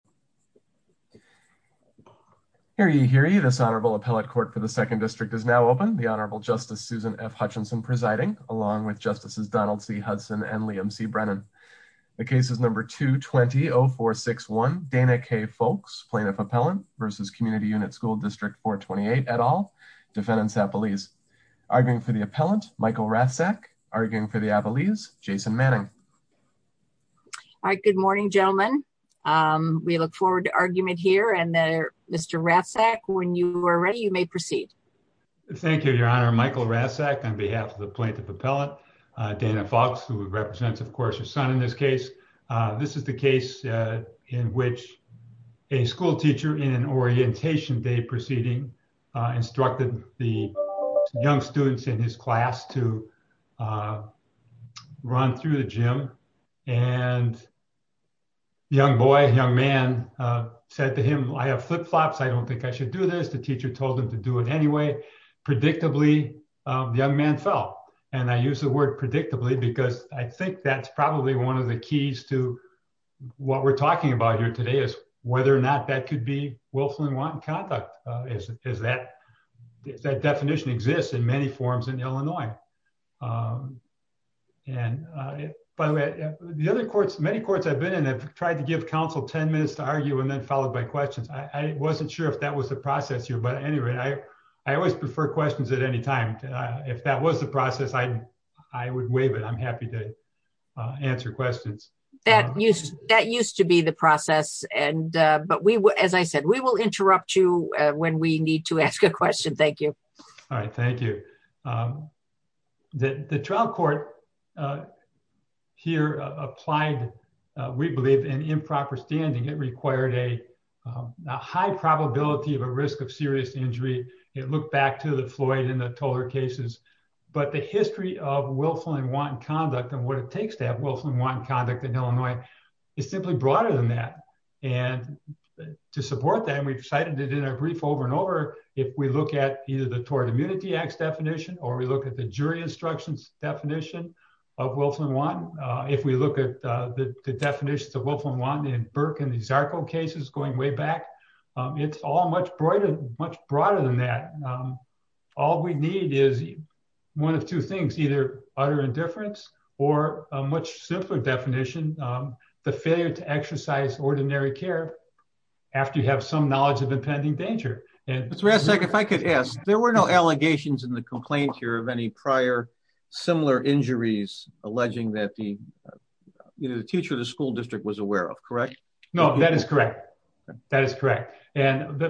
Michael Rathsak, Jason Manning, Michael Rathsak, Michael Rathsak, Jason Manning, Michael Rathsak, Look forward to argument here and there. Mr. Rathsak when you are ready, you may proceed. Thank you, Your Honor. Michael Rathsak on behalf of the plaintiff appellate, Dana Foulks, who represents, of course, her son in this case. This is the case in which a school teacher in an orientation day proceeding instructed the young students in his class to run through the gym. And young boy, young man said to him, I have flip-flops. I don't think I should do this. The teacher told him to do it anyway. Predictably, the young man fell. And I use the word predictably because I think that's probably one of the keys to what we're talking about here today is whether or not that could be willful and And by the way, the other courts, many courts I've been in have tried to give counsel 10 minutes to argue and then followed by questions. I wasn't sure if that was the process here. But anyway, I always prefer questions at any time. If that was the process, I would waive it. I'm happy to answer questions. That used to be the process, but as I said, we will interrupt you when we need to ask a question. Thank you. All right, thank you. The trial court here applied, we believe, an improper standing. It required a high probability of a risk of serious injury. It looked back to the Floyd and the Tolar cases. But the history of willful and wanton conduct and what it takes to have willful and wanton conduct in Illinois is simply broader than that, and to support that, and we've cited it in our brief over and over. If we look at either the Tort Immunity Act's definition or we look at the jury instructions definition of willful and wanton. If we look at the definitions of willful and wanton in Burke and the Zarco cases going way back, it's all much broader than that. All we need is one of two things, either utter indifference or a much simpler definition, the failure to exercise ordinary care after you have some knowledge of impending danger. And- If I could ask, there were no allegations in the complaint here of any prior similar injuries alleging that the teacher of the school district was aware of, correct? No, that is correct, that is correct. And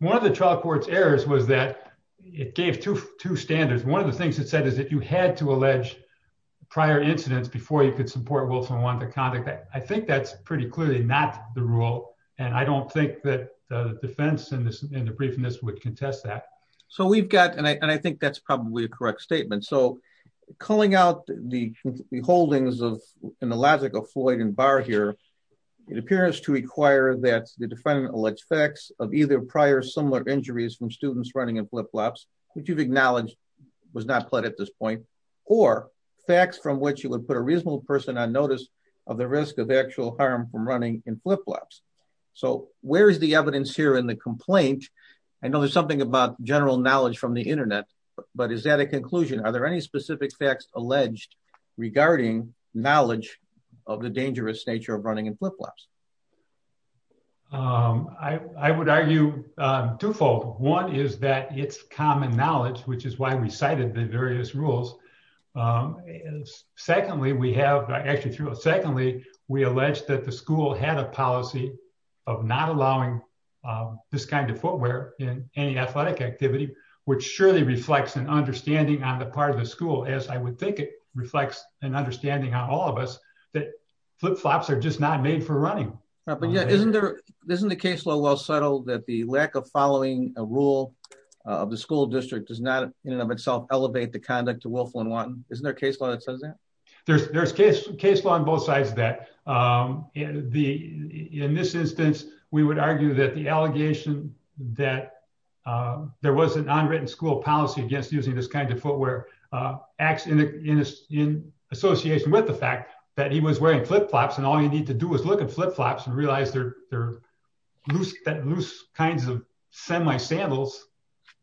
one of the trial court's errors was that it gave two standards. One of the things it said is that you had to allege prior incidents before you could support willful and wanton conduct. I think that's pretty clearly not the rule. And I don't think that the defense in the briefing this would contest that. So we've got, and I think that's probably a correct statement. So calling out the holdings of in the logic of Floyd and Barr here. It appears to require that the defendant elects facts of either prior similar injuries from students running in flip-flops, which you've acknowledged was not pled at this point. Or facts from which you would put a reasonable person on notice of the risk of actual harm from running in flip-flops. So where is the evidence here in the complaint? I know there's something about general knowledge from the internet, but is that a conclusion? Are there any specific facts alleged regarding knowledge of the dangerous nature of running in flip-flops? I would argue twofold. One is that it's common knowledge, which is why we cited the various rules. Secondly, we have actually through a secondly, we allege that the school had a policy of not allowing this kind of footwear in any athletic activity, which surely reflects an understanding on the part of the school as I would think it reflects an understanding on all of us. That flip-flops are just not made for running. But yeah, isn't there, isn't the case low well settled that the lack of following a rule of the school district does not in and of itself elevate the conduct isn't there a case law that says that? There's there's case case law on both sides that the in this instance, we would argue that the allegation that there was an unwritten school policy against using this kind of footwear acts in association with the fact that he was wearing flip-flops and all you need to do is look at flip-flops and realize they're loose that loose kinds of semi sandals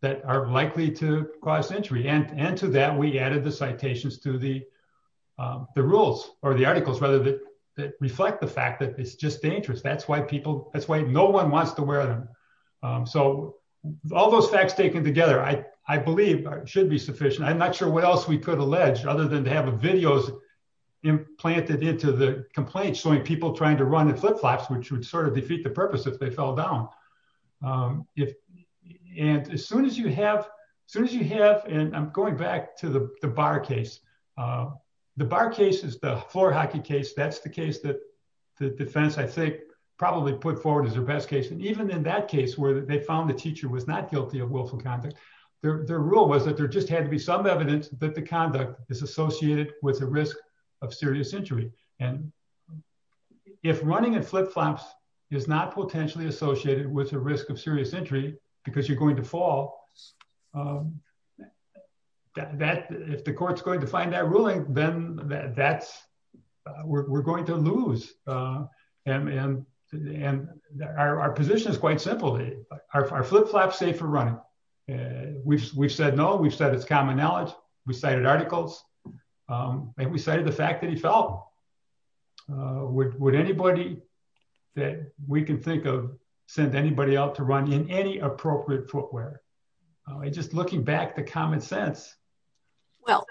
that are likely to cause injury and to that we added the citations to the rules or the articles rather that reflect the fact that it's just dangerous. That's why people that's why no one wants to wear them. So all those facts taken together, I believe should be sufficient. I'm not sure what else we could allege other than to have a videos implanted into the complaint showing people trying to run the flip-flops which would sort of As soon as you have soon as you have and I'm going back to the bar case. The bar case is the floor hockey case. That's the case that the defense I think probably put forward is the best case. And even in that case where they found the teacher was not guilty of willful conduct. Their rule was that there just had to be some evidence that the conduct is associated with the risk of serious injury and If running and flip-flops is not potentially associated with the risk of serious injury because you're going to fall That if the court's going to find that ruling, then that's we're going to lose. And, and, and our position is quite simply our flip-flops safe for running. We said no. We've said it's common knowledge. Would anybody that we can think of send anybody out to run in any appropriate footwear. Just looking back the common sense. Well,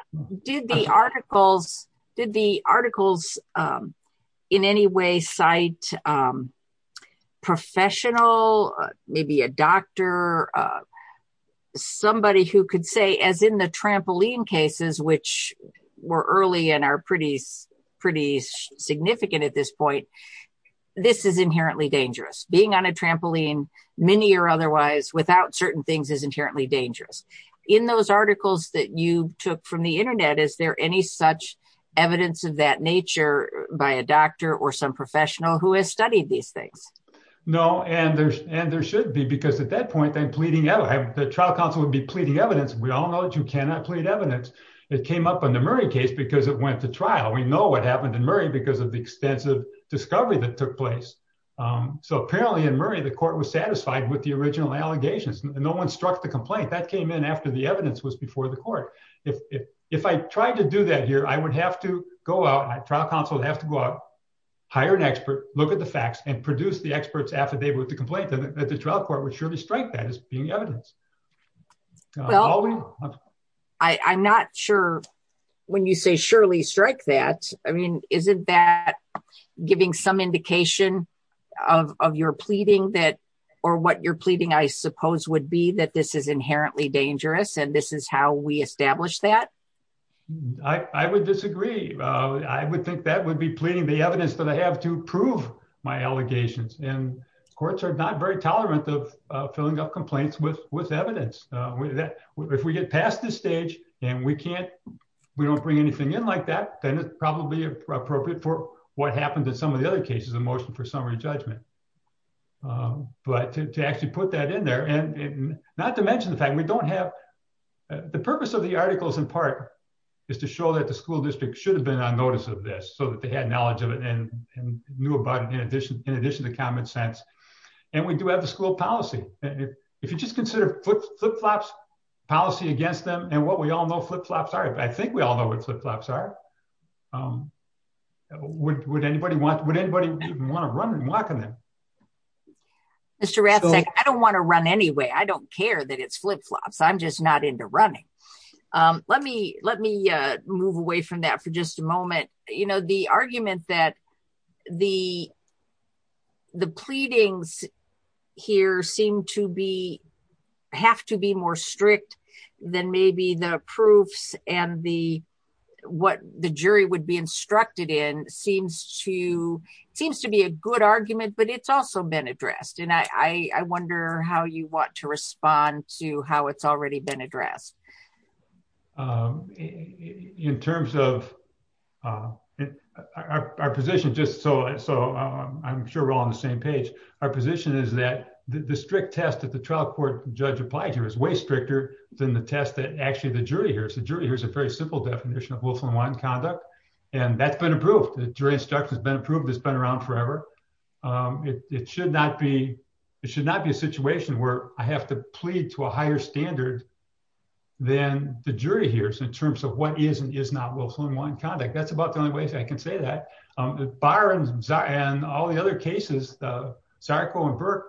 did the articles did the articles in any way site Professional, maybe a doctor. Somebody who could say as in the trampoline cases, which were early and are pretty, pretty significant at this point. This is inherently dangerous being on a trampoline many or otherwise without certain things is inherently dangerous. In those articles that you took from the internet. Is there any such evidence of that nature by a doctor or some professional who has studied these things. No, and there's and there should be because at that point, then pleading out the trial counsel would be pleading evidence. We all know that you cannot plead evidence. It came up in the Murray case because it went to trial. We know what happened in Murray, because of the extensive discovery that took place. So apparently in Murray, the court was satisfied with the original allegations. No one struck the complaint that came in after the evidence was before the court. If, if, if I tried to do that here, I would have to go out. I trial counsel have to go out. Hire an expert, look at the facts and produce the experts affidavit with the complaint that the trial court would surely strike that as being evidence. Well, I, I'm not sure when you say surely strike that. I mean, isn't that giving some indication of, of your pleading that, or what you're pleading, I suppose would be that this is inherently dangerous. And this is how we establish that. I would disagree. I would think that would be pleading the evidence that I have to prove my allegations and courts are not very tolerant of filling up complaints with, with evidence that if we get past this stage and we can't, we don't bring anything in like that, then it's probably appropriate for what happened to some of the other cases of motion for summary judgment. But to actually put that in there and not to mention the fact we don't have. The purpose of the articles in part is to show that the school district should have been on notice of this so that they had knowledge of it and knew about it. In addition to common sense. And we do have the school policy. If you just consider flip-flops policy against them and what we all know flip-flops are, I think we all know what flip-flops are. Would anybody want, would anybody want to run and walk in them? Mr. Rathsek, I don't want to run anyway. I don't care that it's flip-flops. I'm just not into running. Let me, let me move away from that for just a moment. You know, the argument that the, the pleadings here seem to be, have to be more strict than maybe the proofs and the, what the jury would be instructed in seems to, seems to be a good argument, but it's also been addressed. And I, I wonder how you want to respond to how it's already been addressed. In terms of our position, just so, so I'm sure we're all on the same page. Our position is that the strict test that the trial court judge applied here is way stricter than the test that actually the jury hears. The jury hears a very simple definition of Wilson-Wyatt conduct, and that's been approved. The jury instruction has been approved. It's been around forever. It should not be, it should not be a situation where I have to plead to a higher standard than the jury hears in terms of what is and is not Wilson-Wyatt conduct. That's about the only way I can say that. Barr and all the other cases, Zarco and Burke,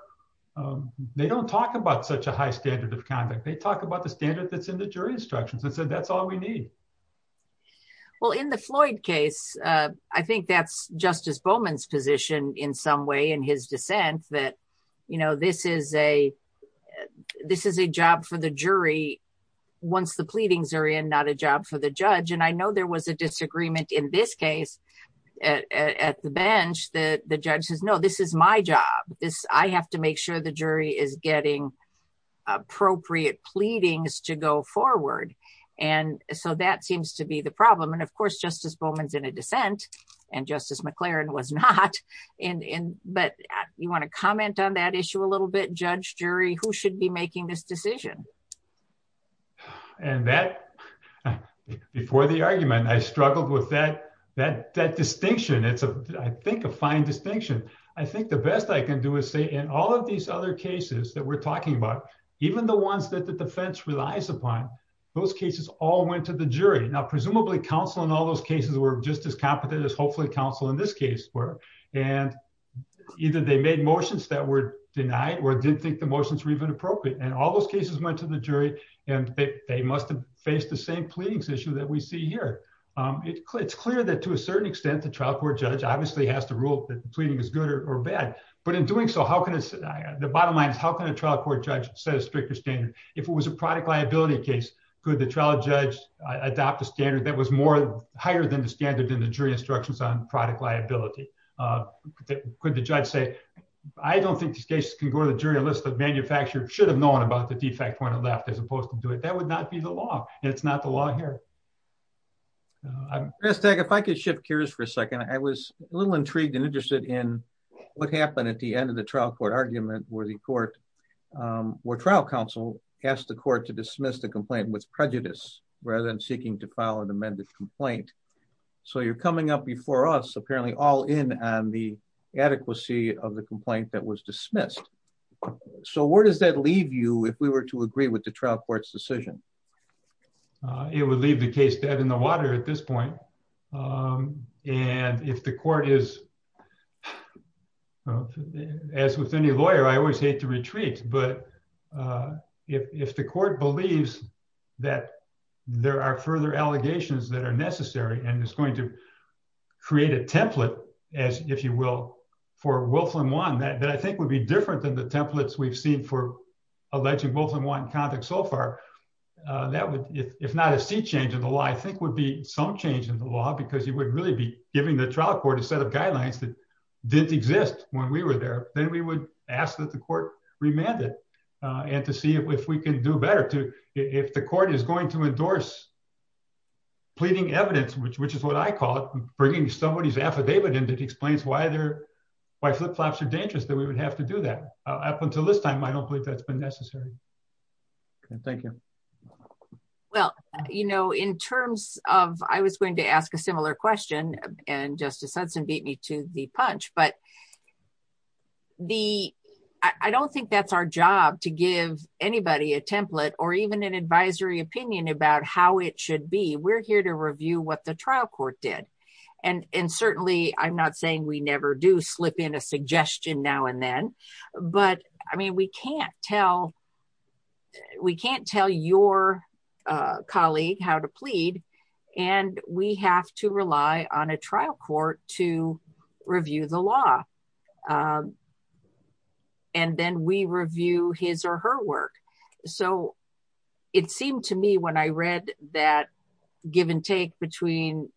they don't talk about such a high standard of conduct. They talk about the standard that's in the jury instructions and said, that's all we need. Well, in the Floyd case, I think that's Justice Bowman's position in some way in his dissent that this is a job for the jury once the pleadings are in, not a job for the judge. And I know there was a disagreement in this case at the bench that the judge says, no, this is my job. I have to make sure the jury is getting appropriate pleadings to go forward. So that seems to be the problem. And of course, Justice Bowman's in a dissent and Justice McLaren was not. But you want to comment on that issue a little bit? Judge, jury, who should be making this decision? And that, before the argument, I struggled with that distinction. It's, I think, a fine distinction. I think the best I can do is say in all of these other cases that we're talking about, even the ones that the defense relies upon, those cases all went to the jury. Now, presumably counsel in all those cases were just as competent as hopefully counsel in this case were. And either they made motions that were denied or didn't think the motions were even appropriate. And all those cases went to the jury. And they must have faced the same pleadings issue that we see here. It's clear that to a certain extent, the trial court judge obviously has to rule that the pleading is good or bad. But in doing so, how can it, the bottom line is, how can a trial court judge set a stricter standard? If it was a product liability case, could the trial judge adopt a standard that was more product liability? Could the judge say, I don't think this case can go to the jury unless the manufacturer should have known about the defect when it left, as opposed to do it. That would not be the law. And it's not the law here. Chris, if I could shift gears for a second. I was a little intrigued and interested in what happened at the end of the trial court argument where the court, where trial counsel asked the court to dismiss the complaint with prejudice rather than seeking to file an amended complaint. So you're coming up before us, apparently all in on the adequacy of the complaint that was dismissed. So where does that leave you if we were to agree with the trial court's decision? It would leave the case dead in the water at this point. And if the court is, as with any lawyer, I always hate to retreat. But if the court believes that there are further allegations that are necessary and it's going to create a template, as if you will, for Wolfram One, that I think would be different than the templates we've seen for electing Wolfram One in context so far. That would, if not a sea change in the law, I think would be some change in the law because you would really be giving the trial court a set of guidelines that didn't exist when we were there. Then we would ask that the court remanded and to see if we can do better to, if the court is going to endorse pleading evidence, which is what I call it, bringing somebody's affidavit in that explains why flip-flops are dangerous, that we would have to do that. Up until this time, I don't believe that's been necessary. Thank you. Well, you know, in terms of, I was going to ask a similar question and Justice Hudson beat me to the punch, but I don't think that's our job to give anybody a template or even an advisory opinion about how it should be. We're here to review what the trial court did. Certainly, I'm not saying we never do slip in a suggestion now and then, but I mean, we can't tell your colleague how to plead and we have to rely on a trial court to review the law and then we review his or her work. It seemed to me when I read that give and take between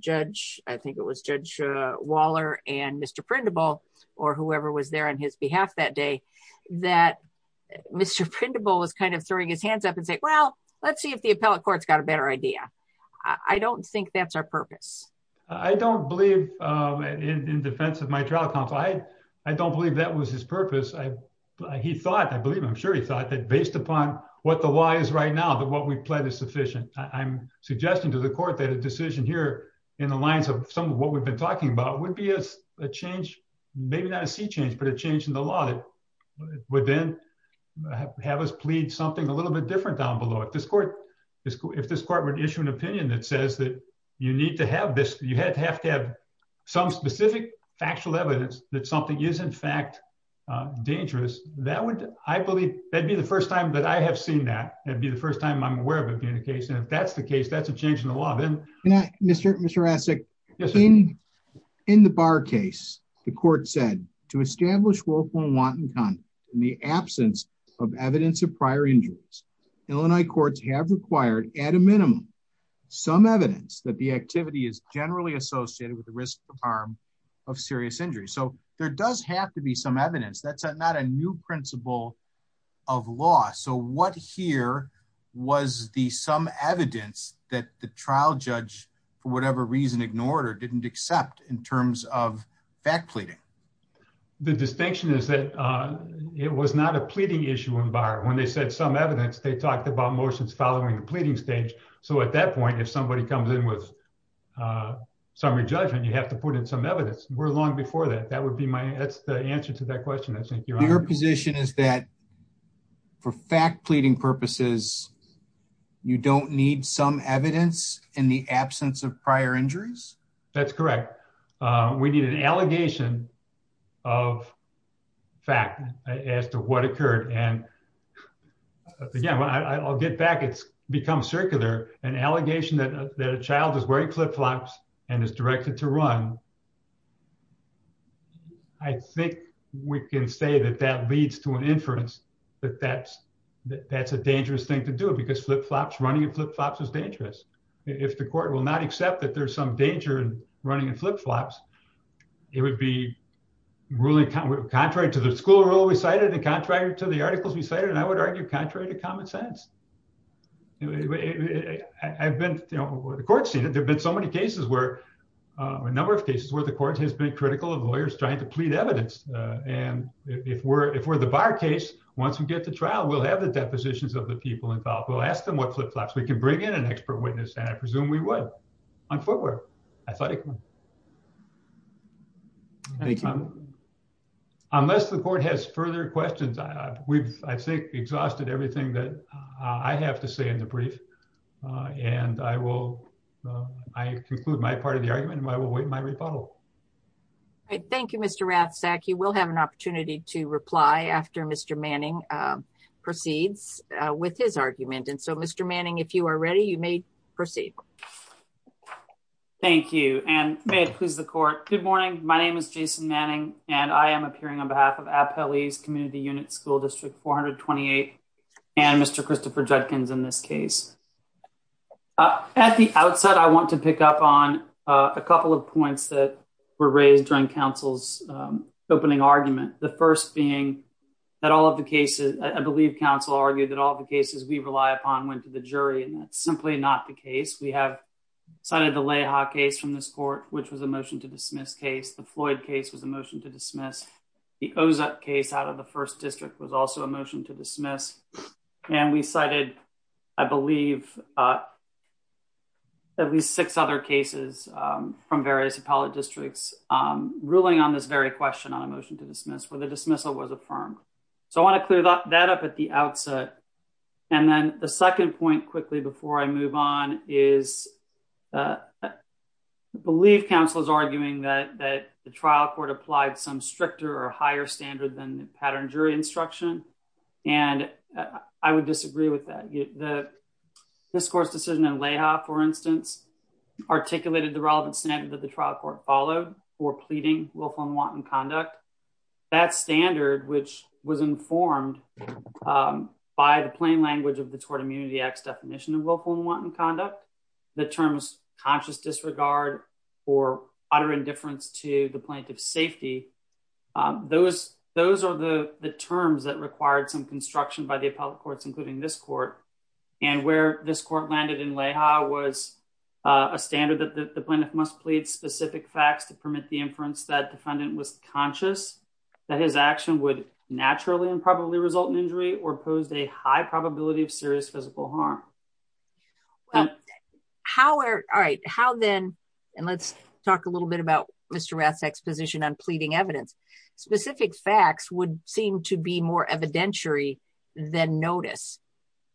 Judge, I think it was Judge Waller and Mr. Printable or whoever was there on his behalf that day, that Mr. Printable was kind of throwing his hands up and saying, well, let's see if the appellate court's got a better idea. I don't think that's our purpose. I don't believe, in defense of my trial counsel, I don't believe that was his purpose. He thought, I believe, I'm sure he thought that based upon what the law is right now, that what we pled is sufficient. I'm suggesting to the court that a decision here in the lines of some of what we've been talking about would be a change, maybe not a sea change, but a change in the law that would then have us plead something a little bit different down below. If this court would issue an opinion that says that you need to have this, you have to have some specific factual evidence that something is, in fact, dangerous, that would, I believe, that'd be the first time that I have seen that. That'd be the first time I'm aware of it being the case. And if that's the case, that's a change in the law. Mr. Essek, in the Barr case, the court said, to establish willful and wanton conduct in the absence of evidence of prior injuries, Illinois courts have required, at a minimum, some evidence that the activity is generally associated with the risk of harm of serious injury. So there does have to be some evidence. That's not a new principle of law. So what here was the some evidence that the trial judge, for whatever reason, ignored or didn't accept in terms of fact pleading? The distinction is that it was not a pleading issue in Barr. When they said some evidence, they talked about motions following the pleading stage. So at that point, if somebody comes in with some re-judgment, you have to put in some evidence. We're long before that. Your position is that, for fact pleading purposes, you don't need some evidence in the absence of prior injuries? That's correct. We need an allegation of fact as to what occurred. And again, I'll get back. It's become circular. An allegation that a child is wearing flip-flops and is directed to run, I think we can say that that leads to an inference that that's a dangerous thing to do. Because running in flip-flops is dangerous. If the court will not accept that there's some danger in running in flip-flops, it would be really contrary to the school rule we cited, and contrary to the articles we cited. And I would argue contrary to common sense. The court's seen it. A number of cases where the court has been critical of lawyers trying to plead evidence. And if we're the bar case, once we get to trial, we'll have the depositions of the people involved. We'll ask them what flip-flops. We can bring in an expert witness. And I presume we would on footwear, athletically. Unless the court has further questions, I think we've exhausted everything that I have to say in the brief. And I will conclude my part of the argument. And I will await my rebuttal. All right. Thank you, Mr. Rathsack. You will have an opportunity to reply after Mr. Manning proceeds with his argument. And so, Mr. Manning, if you are ready, you may proceed. Thank you. And may it please the court. Good morning. My name is Jason Manning. And I am appearing on behalf of Appellee's Community Unit School District 428. And Mr. Christopher Judkins in this case. At the outset, I want to pick up on a couple of points that were raised during counsel's opening argument. The first being that all of the cases, I believe counsel argued that all of the cases we rely upon went to the jury. And that's simply not the case. We have cited the Leha case from this court, which was a motion to dismiss case. The Floyd case was a motion to dismiss. And we cited, I believe, at least six other cases from various appellate districts ruling on this very question on a motion to dismiss where the dismissal was affirmed. So I want to clear that up at the outset. And then the second point quickly before I move on is I believe counsel is arguing that the trial court applied some stricter or higher standard than the pattern jury instruction. And I would disagree with that. The discourse decision in Leha, for instance, articulated the relevant standard that the trial court followed for pleading willful and wanton conduct. That standard, which was informed by the plain language of the Tort Immunity Act's definition of willful and wanton conduct, the terms conscious disregard or utter indifference to the plaintiff's the terms that required some construction by the appellate courts, including this court and where this court landed in Leha was a standard that the plaintiff must plead specific facts to permit the inference that defendant was conscious that his action would naturally and probably result in injury or posed a high probability of serious physical harm. Well, how are all right, how then and let's talk a little bit about Mr. Essex position on pleading evidence specific facts would seem to be more evidentiary than notice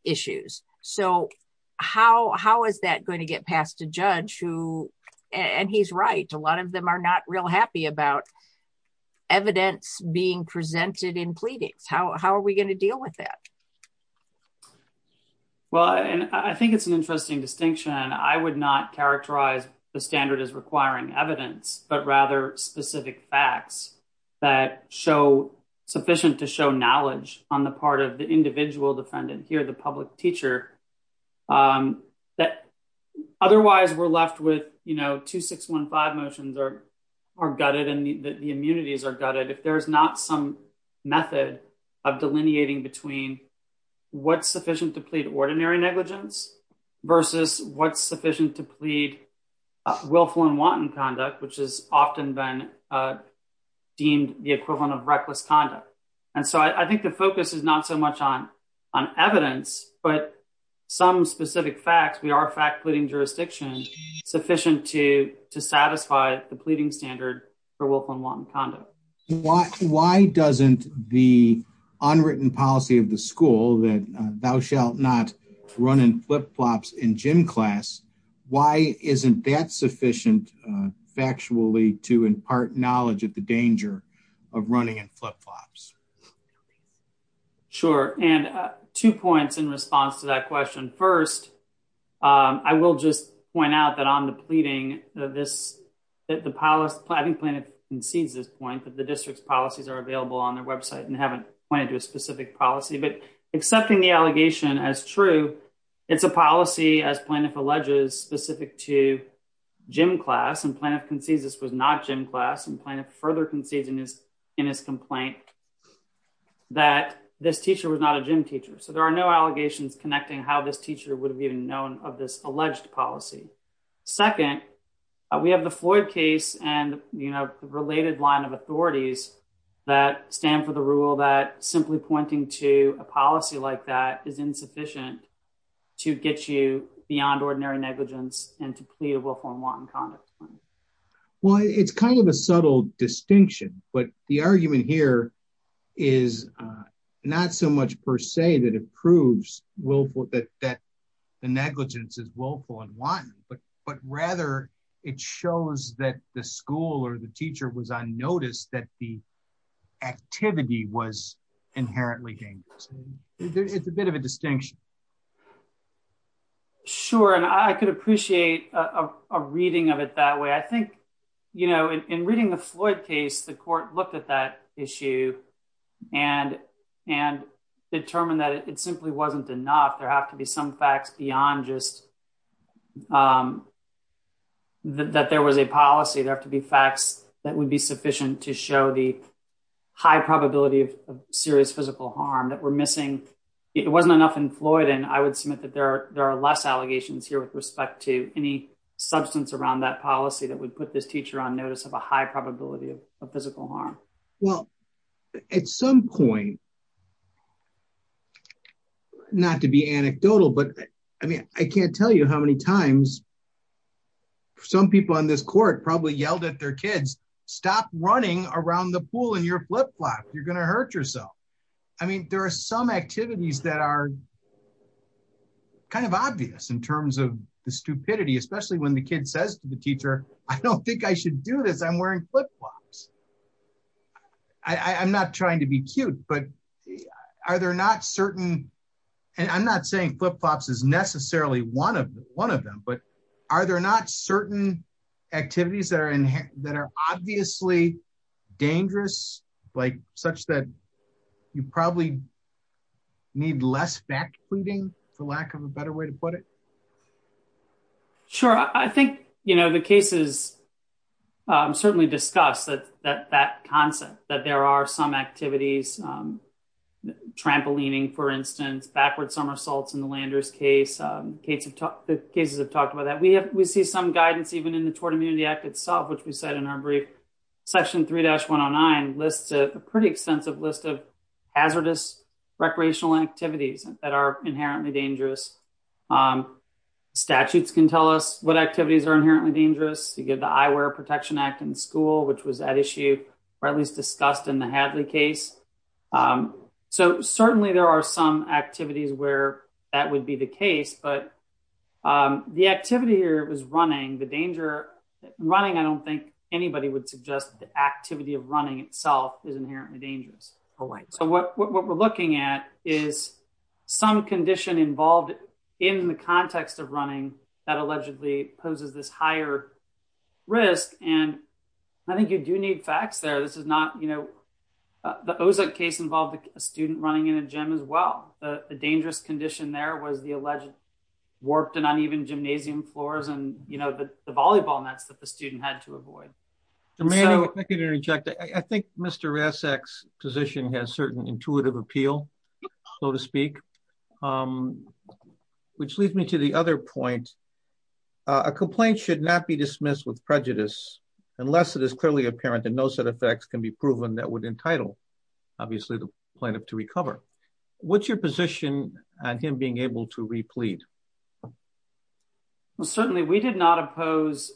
issues. So how, how is that going to get past a judge who and he's right. A lot of them are not real happy about evidence being presented in pleadings. How are we going to deal with that? Well, I think it's an interesting distinction. I would not characterize the standard as requiring evidence, but rather specific facts that show sufficient to show knowledge on the part of the individual defendant here, the public teacher. That otherwise we're left with, you know, 2615 motions are gutted and the immunities are gutted if there's not some method of delineating between what's sufficient to plead ordinary negligence versus what's sufficient to plead willful and wanton conduct, which is often been deemed the equivalent of reckless conduct. And so I think the focus is not so much on on evidence, but some specific facts, we are fact leading jurisdictions sufficient to to satisfy the pleading standard for willful and wanton conduct. Why doesn't the unwritten policy of the school that thou shalt not run in flip-flops in gym class? Why isn't that sufficient factually to impart knowledge of the danger of running in flip-flops? Sure. And two points in response to that question. First, I will just point out that on the pleading this, the policy, I think Plaintiff concedes this point that the district's policies are available on their website and haven't pointed to a specific policy, but accepting the allegation as true, it's a policy as Plaintiff alleges specific to gym class and Plaintiff concedes this was not gym class and Plaintiff further concedes in his complaint that this teacher was not a gym teacher. So there are no allegations connecting how this teacher would have even known of this alleged policy. Second, we have the Floyd case and, you know, the related line of authorities that stand for the rule that simply pointing to a policy like that is insufficient to get you beyond ordinary negligence and to plead willful and wanton conduct. Well, it's kind of a subtle distinction, but the argument here is not so much per se that proves willful that the negligence is willful and wanton, but rather it shows that the school or the teacher was on notice that the activity was inherently dangerous. It's a bit of a distinction. Sure. And I could appreciate a reading of it that way. I think, you know, in reading the Floyd case, the court looked at that issue and determined that it simply wasn't enough. There have to be some facts beyond just that there was a policy. There have to be facts that would be sufficient to show the high probability of serious physical harm that we're missing. It wasn't enough in Floyd. And I would submit that there are less allegations here with respect to any substance around that policy that would put this teacher on notice of a high probability of physical harm. Well, at some point, not to be anecdotal, but I mean, I can't tell you how many times some people on this court probably yelled at their kids, stop running around the pool in your flip flop. You're going to hurt yourself. I mean, there are some activities that are kind of obvious in terms of the stupidity, especially when the kid says to the teacher, I don't think I should do this. I'm wearing flip flops. I'm not trying to be cute, but are there not certain and I'm not saying flip flops is necessarily one of them, but are there not certain activities that are obviously dangerous, like such that you probably need less back pleading for lack of a better way to put it? Sure. I think the cases certainly discuss that concept that there are some activities, trampolining, for instance, backward somersaults in the Landers case. The cases have talked about that. We see some guidance even in the Tort Immunity Act itself, which we said in our brief. Section 3-109 lists a pretty extensive list of hazardous recreational activities that are inherently dangerous. Statutes can tell us what activities are inherently dangerous. You get the Eyewear Protection Act in school, which was at issue, or at least discussed in the Hadley case. So certainly there are some activities where that would be the case, but the activity here was running. I don't think anybody would suggest the activity of running itself is inherently dangerous. So what we're looking at is some condition involved in the context of running that allegedly poses this higher risk. I think you do need facts there. The Ozek case involved a student running in a gym as well. The dangerous condition there was the alleged warped and uneven gymnasium floors and the volleyball nets that the student had to avoid. If I could interject, I think Mr. Rasek's position has certain intuitive appeal, so to speak, which leads me to the other point. A complaint should not be dismissed with prejudice unless it is clearly apparent that no set of facts can be proven that would entitle, obviously, the plaintiff to recover. What's your position on him being able to replead? Well, certainly we did not oppose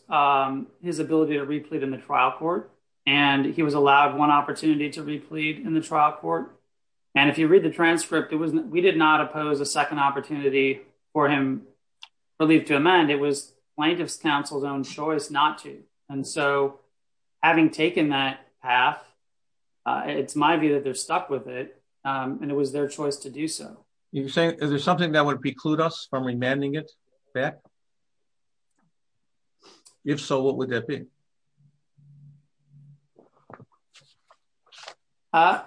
his ability to replead in the trial court, and he was allowed one opportunity to replead in the trial court. And if you read the transcript, we did not oppose a second opportunity for him to leave to amend. It was plaintiff's counsel's own choice not to. And so having taken that path, it's my view that they're stuck with it, and it was their choice to do so. Is there something that would preclude us from remanding it back? If so, what would that be? I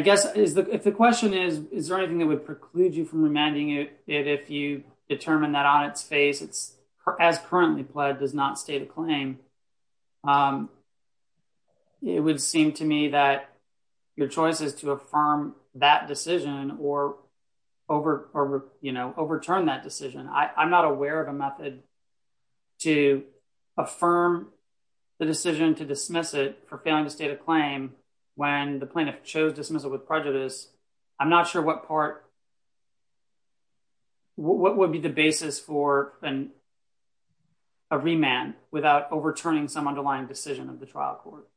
guess if the question is, is there anything that would preclude you from remanding it if you it would seem to me that your choice is to affirm that decision or overturn that decision. I'm not aware of a method to affirm the decision to dismiss it for failing to state a claim when the plaintiff chose to dismiss it with prejudice. I'm not sure what part, what would be the basis for a remand without overturning some underlying decision of the trial court?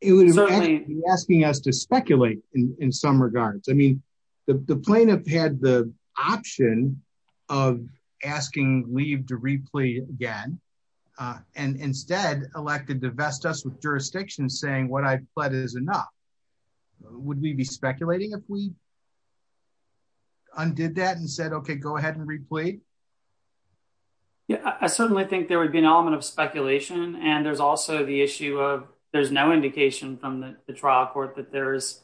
It would be asking us to speculate in some regards. I mean, the plaintiff had the option of asking leave to replead again and instead elected to vest us with jurisdiction saying what I've pled is enough. Would we be speculating if we undid that and said, okay, go ahead and do it? I certainly think there would be an element of speculation. There's also the issue of there's no indication from the trial court that there's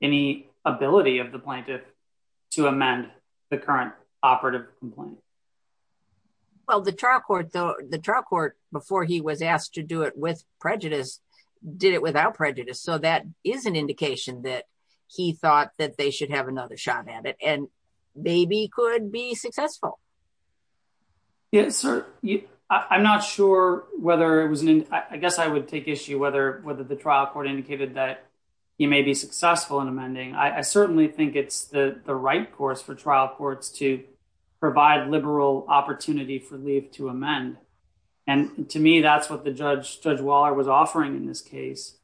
any ability of the plaintiff to amend the current operative complaint. Well, the trial court before he was asked to do it with prejudice did it without prejudice. That is an indication that he thought that they should have another shot at it and maybe could be successful. I guess I would take issue whether the trial court indicated that he may be successful in amending. I certainly think it's the right course for trial courts to provide liberal opportunity for leave to amend. To me, that's what the Judge Waller was offering in this case.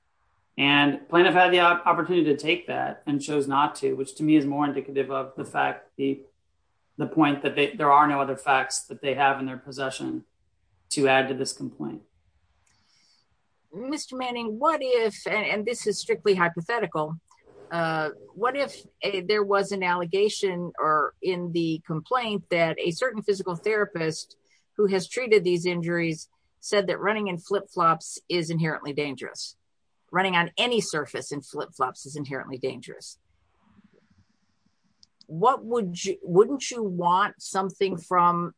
Plaintiff had the opportunity to take that and chose not to, which to me is more indicative of the fact, the point that there are no other facts that they have in their possession to add to this complaint. Mr. Manning, what if, and this is strictly hypothetical, what if there was an allegation or in the complaint that a certain physical therapist who has treated these injuries said that running in flip-flops is inherently dangerous? Wouldn't you want something from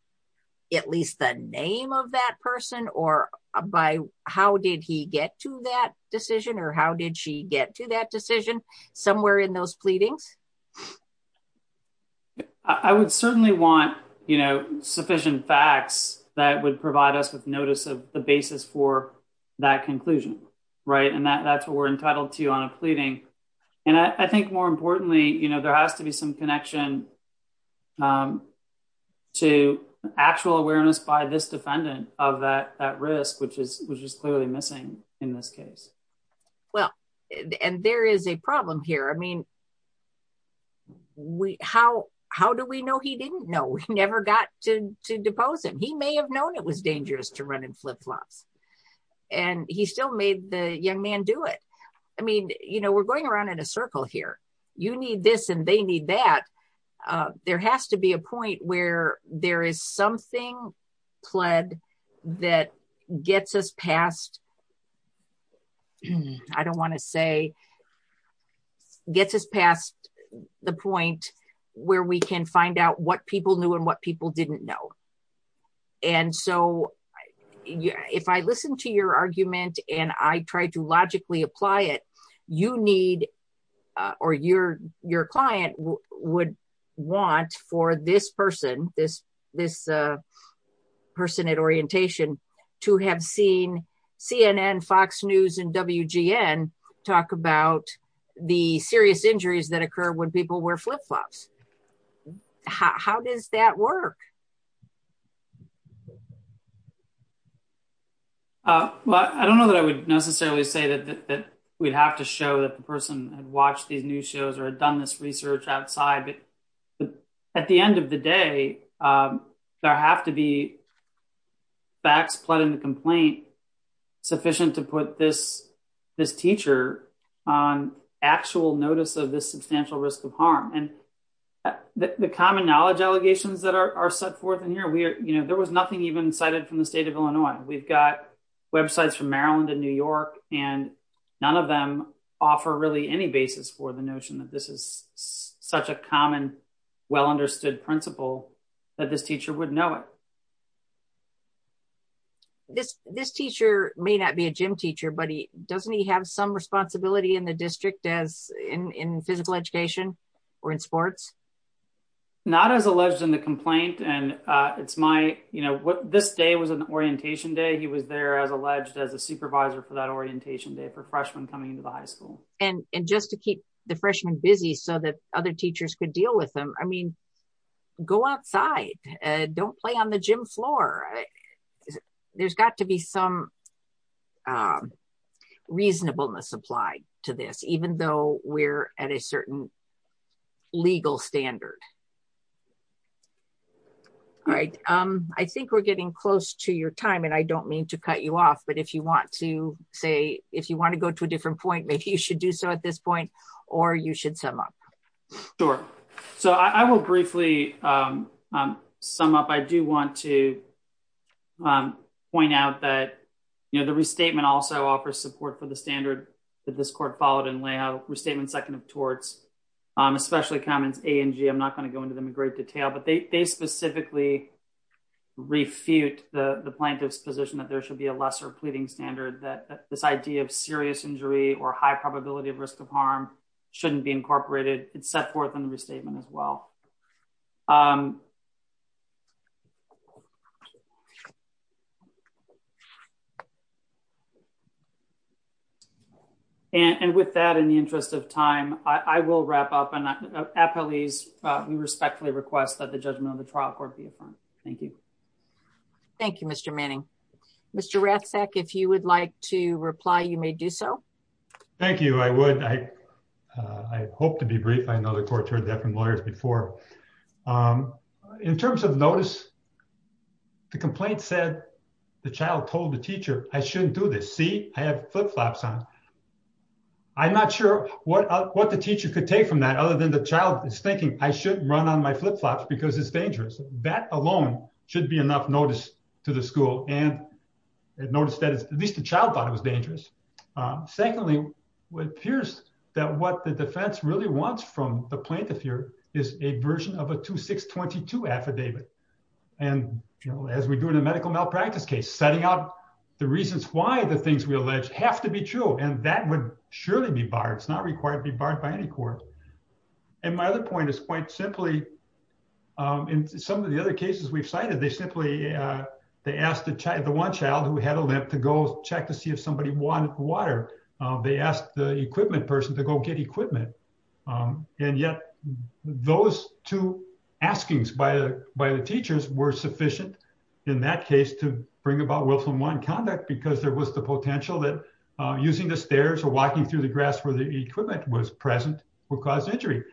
at least the name of that person or by how did he get to that decision or how did she get to that decision somewhere in those pleadings? I would certainly want sufficient facts that would provide us with notice of the basis for that conclusion. That's what we're entitled to on a pleading. I think more importantly, there has to be some connection to actual awareness by this defendant of that risk, which is clearly missing in this case. There is a problem here. How do we know he didn't know? We never got to depose him. He may have known it was dangerous to run in flip-flops and he still made the young man do it. We're going around in a circle here. You need this and they need that. There has to be a point where there is something pled that gets us past, I don't want to say, gets us past the point where we can find out what people knew and what people didn't know. If I listen to your argument and I try to logically apply it, you need or your client would want for this person at orientation to have seen CNN, Fox News, and WGN talk about the serious injuries that occur when people wear flip-flops. How does that work? I don't know that I would necessarily say that we'd have to show that the person had watched these news shows or had done this research outside, but at the end of the day, there have to be facts pled in the complaint sufficient to put this teacher on actual notice of this substantial risk of harm. The common knowledge allegations that are set forth in here, there was nothing even cited from the state of Illinois. We've got websites from Maryland and New York and none of them offer really any basis for the notion that this is such a common, well-understood principle that this teacher would know it. This teacher may not be a gym teacher, but doesn't he have some responsibility in the physical education or in sports? Not as alleged in the complaint. This day was an orientation day. He was there as alleged as a supervisor for that orientation day for freshmen coming into the high school. Just to keep the freshmen busy so that other teachers could deal with them, go outside. Don't play on the gym floor. There's got to be some reasonableness applied to this, even though we're at a certain legal standard. I think we're getting close to your time and I don't mean to cut you off, but if you want to say, if you want to go to a different point, maybe you should do so at this point, or you should sum up. Sure. I will briefly sum up. I do want to point out that the restatement also offers support for the standard that this court followed and lay out, restatement second of torts, especially comments A and G. I'm not going to go into them in great detail, but they specifically refute the plaintiff's position that there should be a lesser pleading standard, that this idea of serious injury or high probability of risk of harm shouldn't be incorporated. It's set forth in the restatement as well. Thank you. With that, in the interest of time, I will wrap up. Appellees, we respectfully request that the judgment of the trial court be affirmed. Thank you. Thank you, Mr. Manning. Mr. Ratzak, if you would like to reply, you may do so. Thank you. I would. I hope to be brief. I know the court heard that from lawyers before. In terms of notice, the complaint said the child told the teacher, I shouldn't do this. See, I have flip-flops on. I'm not sure what the teacher could take from that other than the child is thinking I shouldn't run on my flip-flops because it's dangerous. That alone should be enough notice to the school and notice that at least the child thought it was dangerous. Secondly, it appears that what the defense really wants from the plaintiff here is a version of a 2622 affidavit. As we do in a medical malpractice case, setting out the reasons why the things we allege have to be true. That would surely be barred. It's not required to be barred by any court. My other point is quite simply, in some of the other cases we've cited, they simply asked the one child who had a limp to go check to see if somebody wanted water. They asked the equipment person to go get equipment. Yet, those two askings by the teachers were sufficient in that case to bring about willful nonconduct because there was the potential that using the stairs or walking through the grass where the equipment was present would cause injury.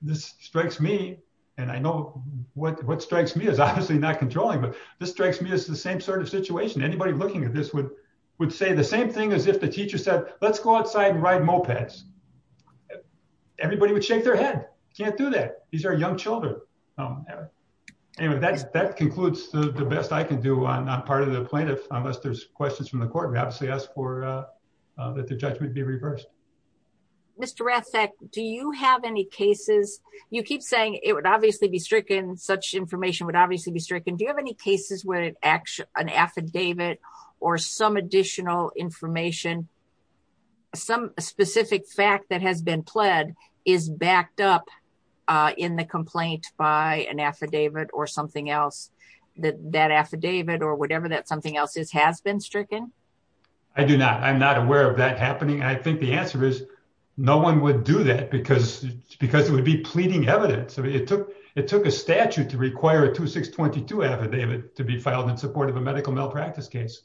This strikes me, and I know what strikes me is obviously not controlling, but this strikes me as the same sort of situation. Anybody looking at this would say the same thing as if the teacher said, let's go outside and ride mopeds. Everybody would shake their head. You can't do that. These are young children. Anyway, that concludes the best I can do on part of the plaintiff, unless there's questions from the court. We obviously ask that the judgment be reversed. Mr. Rathke, do you have any cases? You keep saying it would obviously be stricken. Such information would obviously be stricken. Do you have any cases where an affidavit or some additional information, some specific fact that has been pled is backed up in the complaint by an affidavit or something else? That affidavit or whatever that something else is has been no one would do that because it would be pleading evidence. It took a statute to require a 2622 affidavit to be filed in support of a medical malpractice case.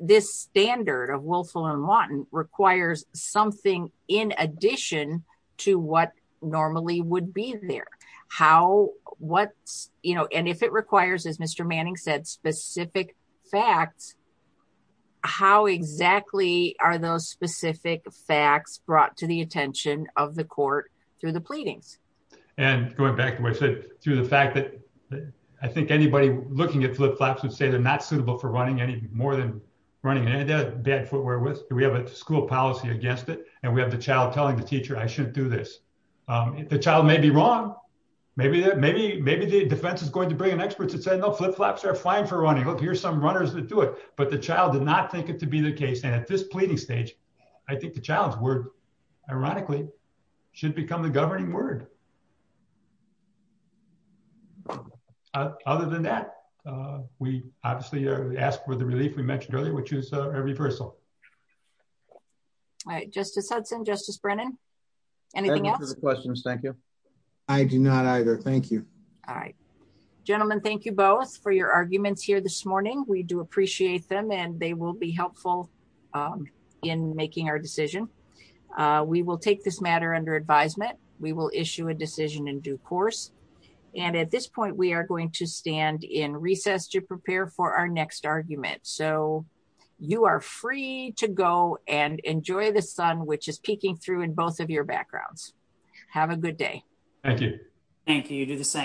This standard of Wilson and Lawton requires something in addition to what normally would be there. If it requires, as Mr. Manning said, specific facts, how exactly are those specific facts brought to the attention of the court through the pleadings? Going back to what I said, through the fact that I think anybody looking at flip-flops would say they're not suitable for running any more than running bad footwear with. We have a school policy against it. We have the child telling the teacher, I shouldn't do this. The child may be wrong. Maybe the defense is going to bring an expert to say, no, flip-flops are fine for running. Here's some runners that do it. But the child did not think it to be the case. At this pleading stage, I think the child's word, ironically, should become the governing word. Other than that, we obviously ask for the relief we mentioned earlier, which is a reversal. All right. Justice Hudson, Justice Brennan, anything else? I have no further questions. Thank you. I do not either. Thank you. All right. Gentlemen, thank you both for your arguments here this morning. We do appreciate them, and they will be helpful in making our decision. We will take this matter under advisement. We will issue a decision in due course. And at this point, we are going to stand in recess to prepare for our next argument. So you are free to go and enjoy the sun, which is peeking through in both of your backgrounds. Have a good day. Thank you. Thank you. You do the same.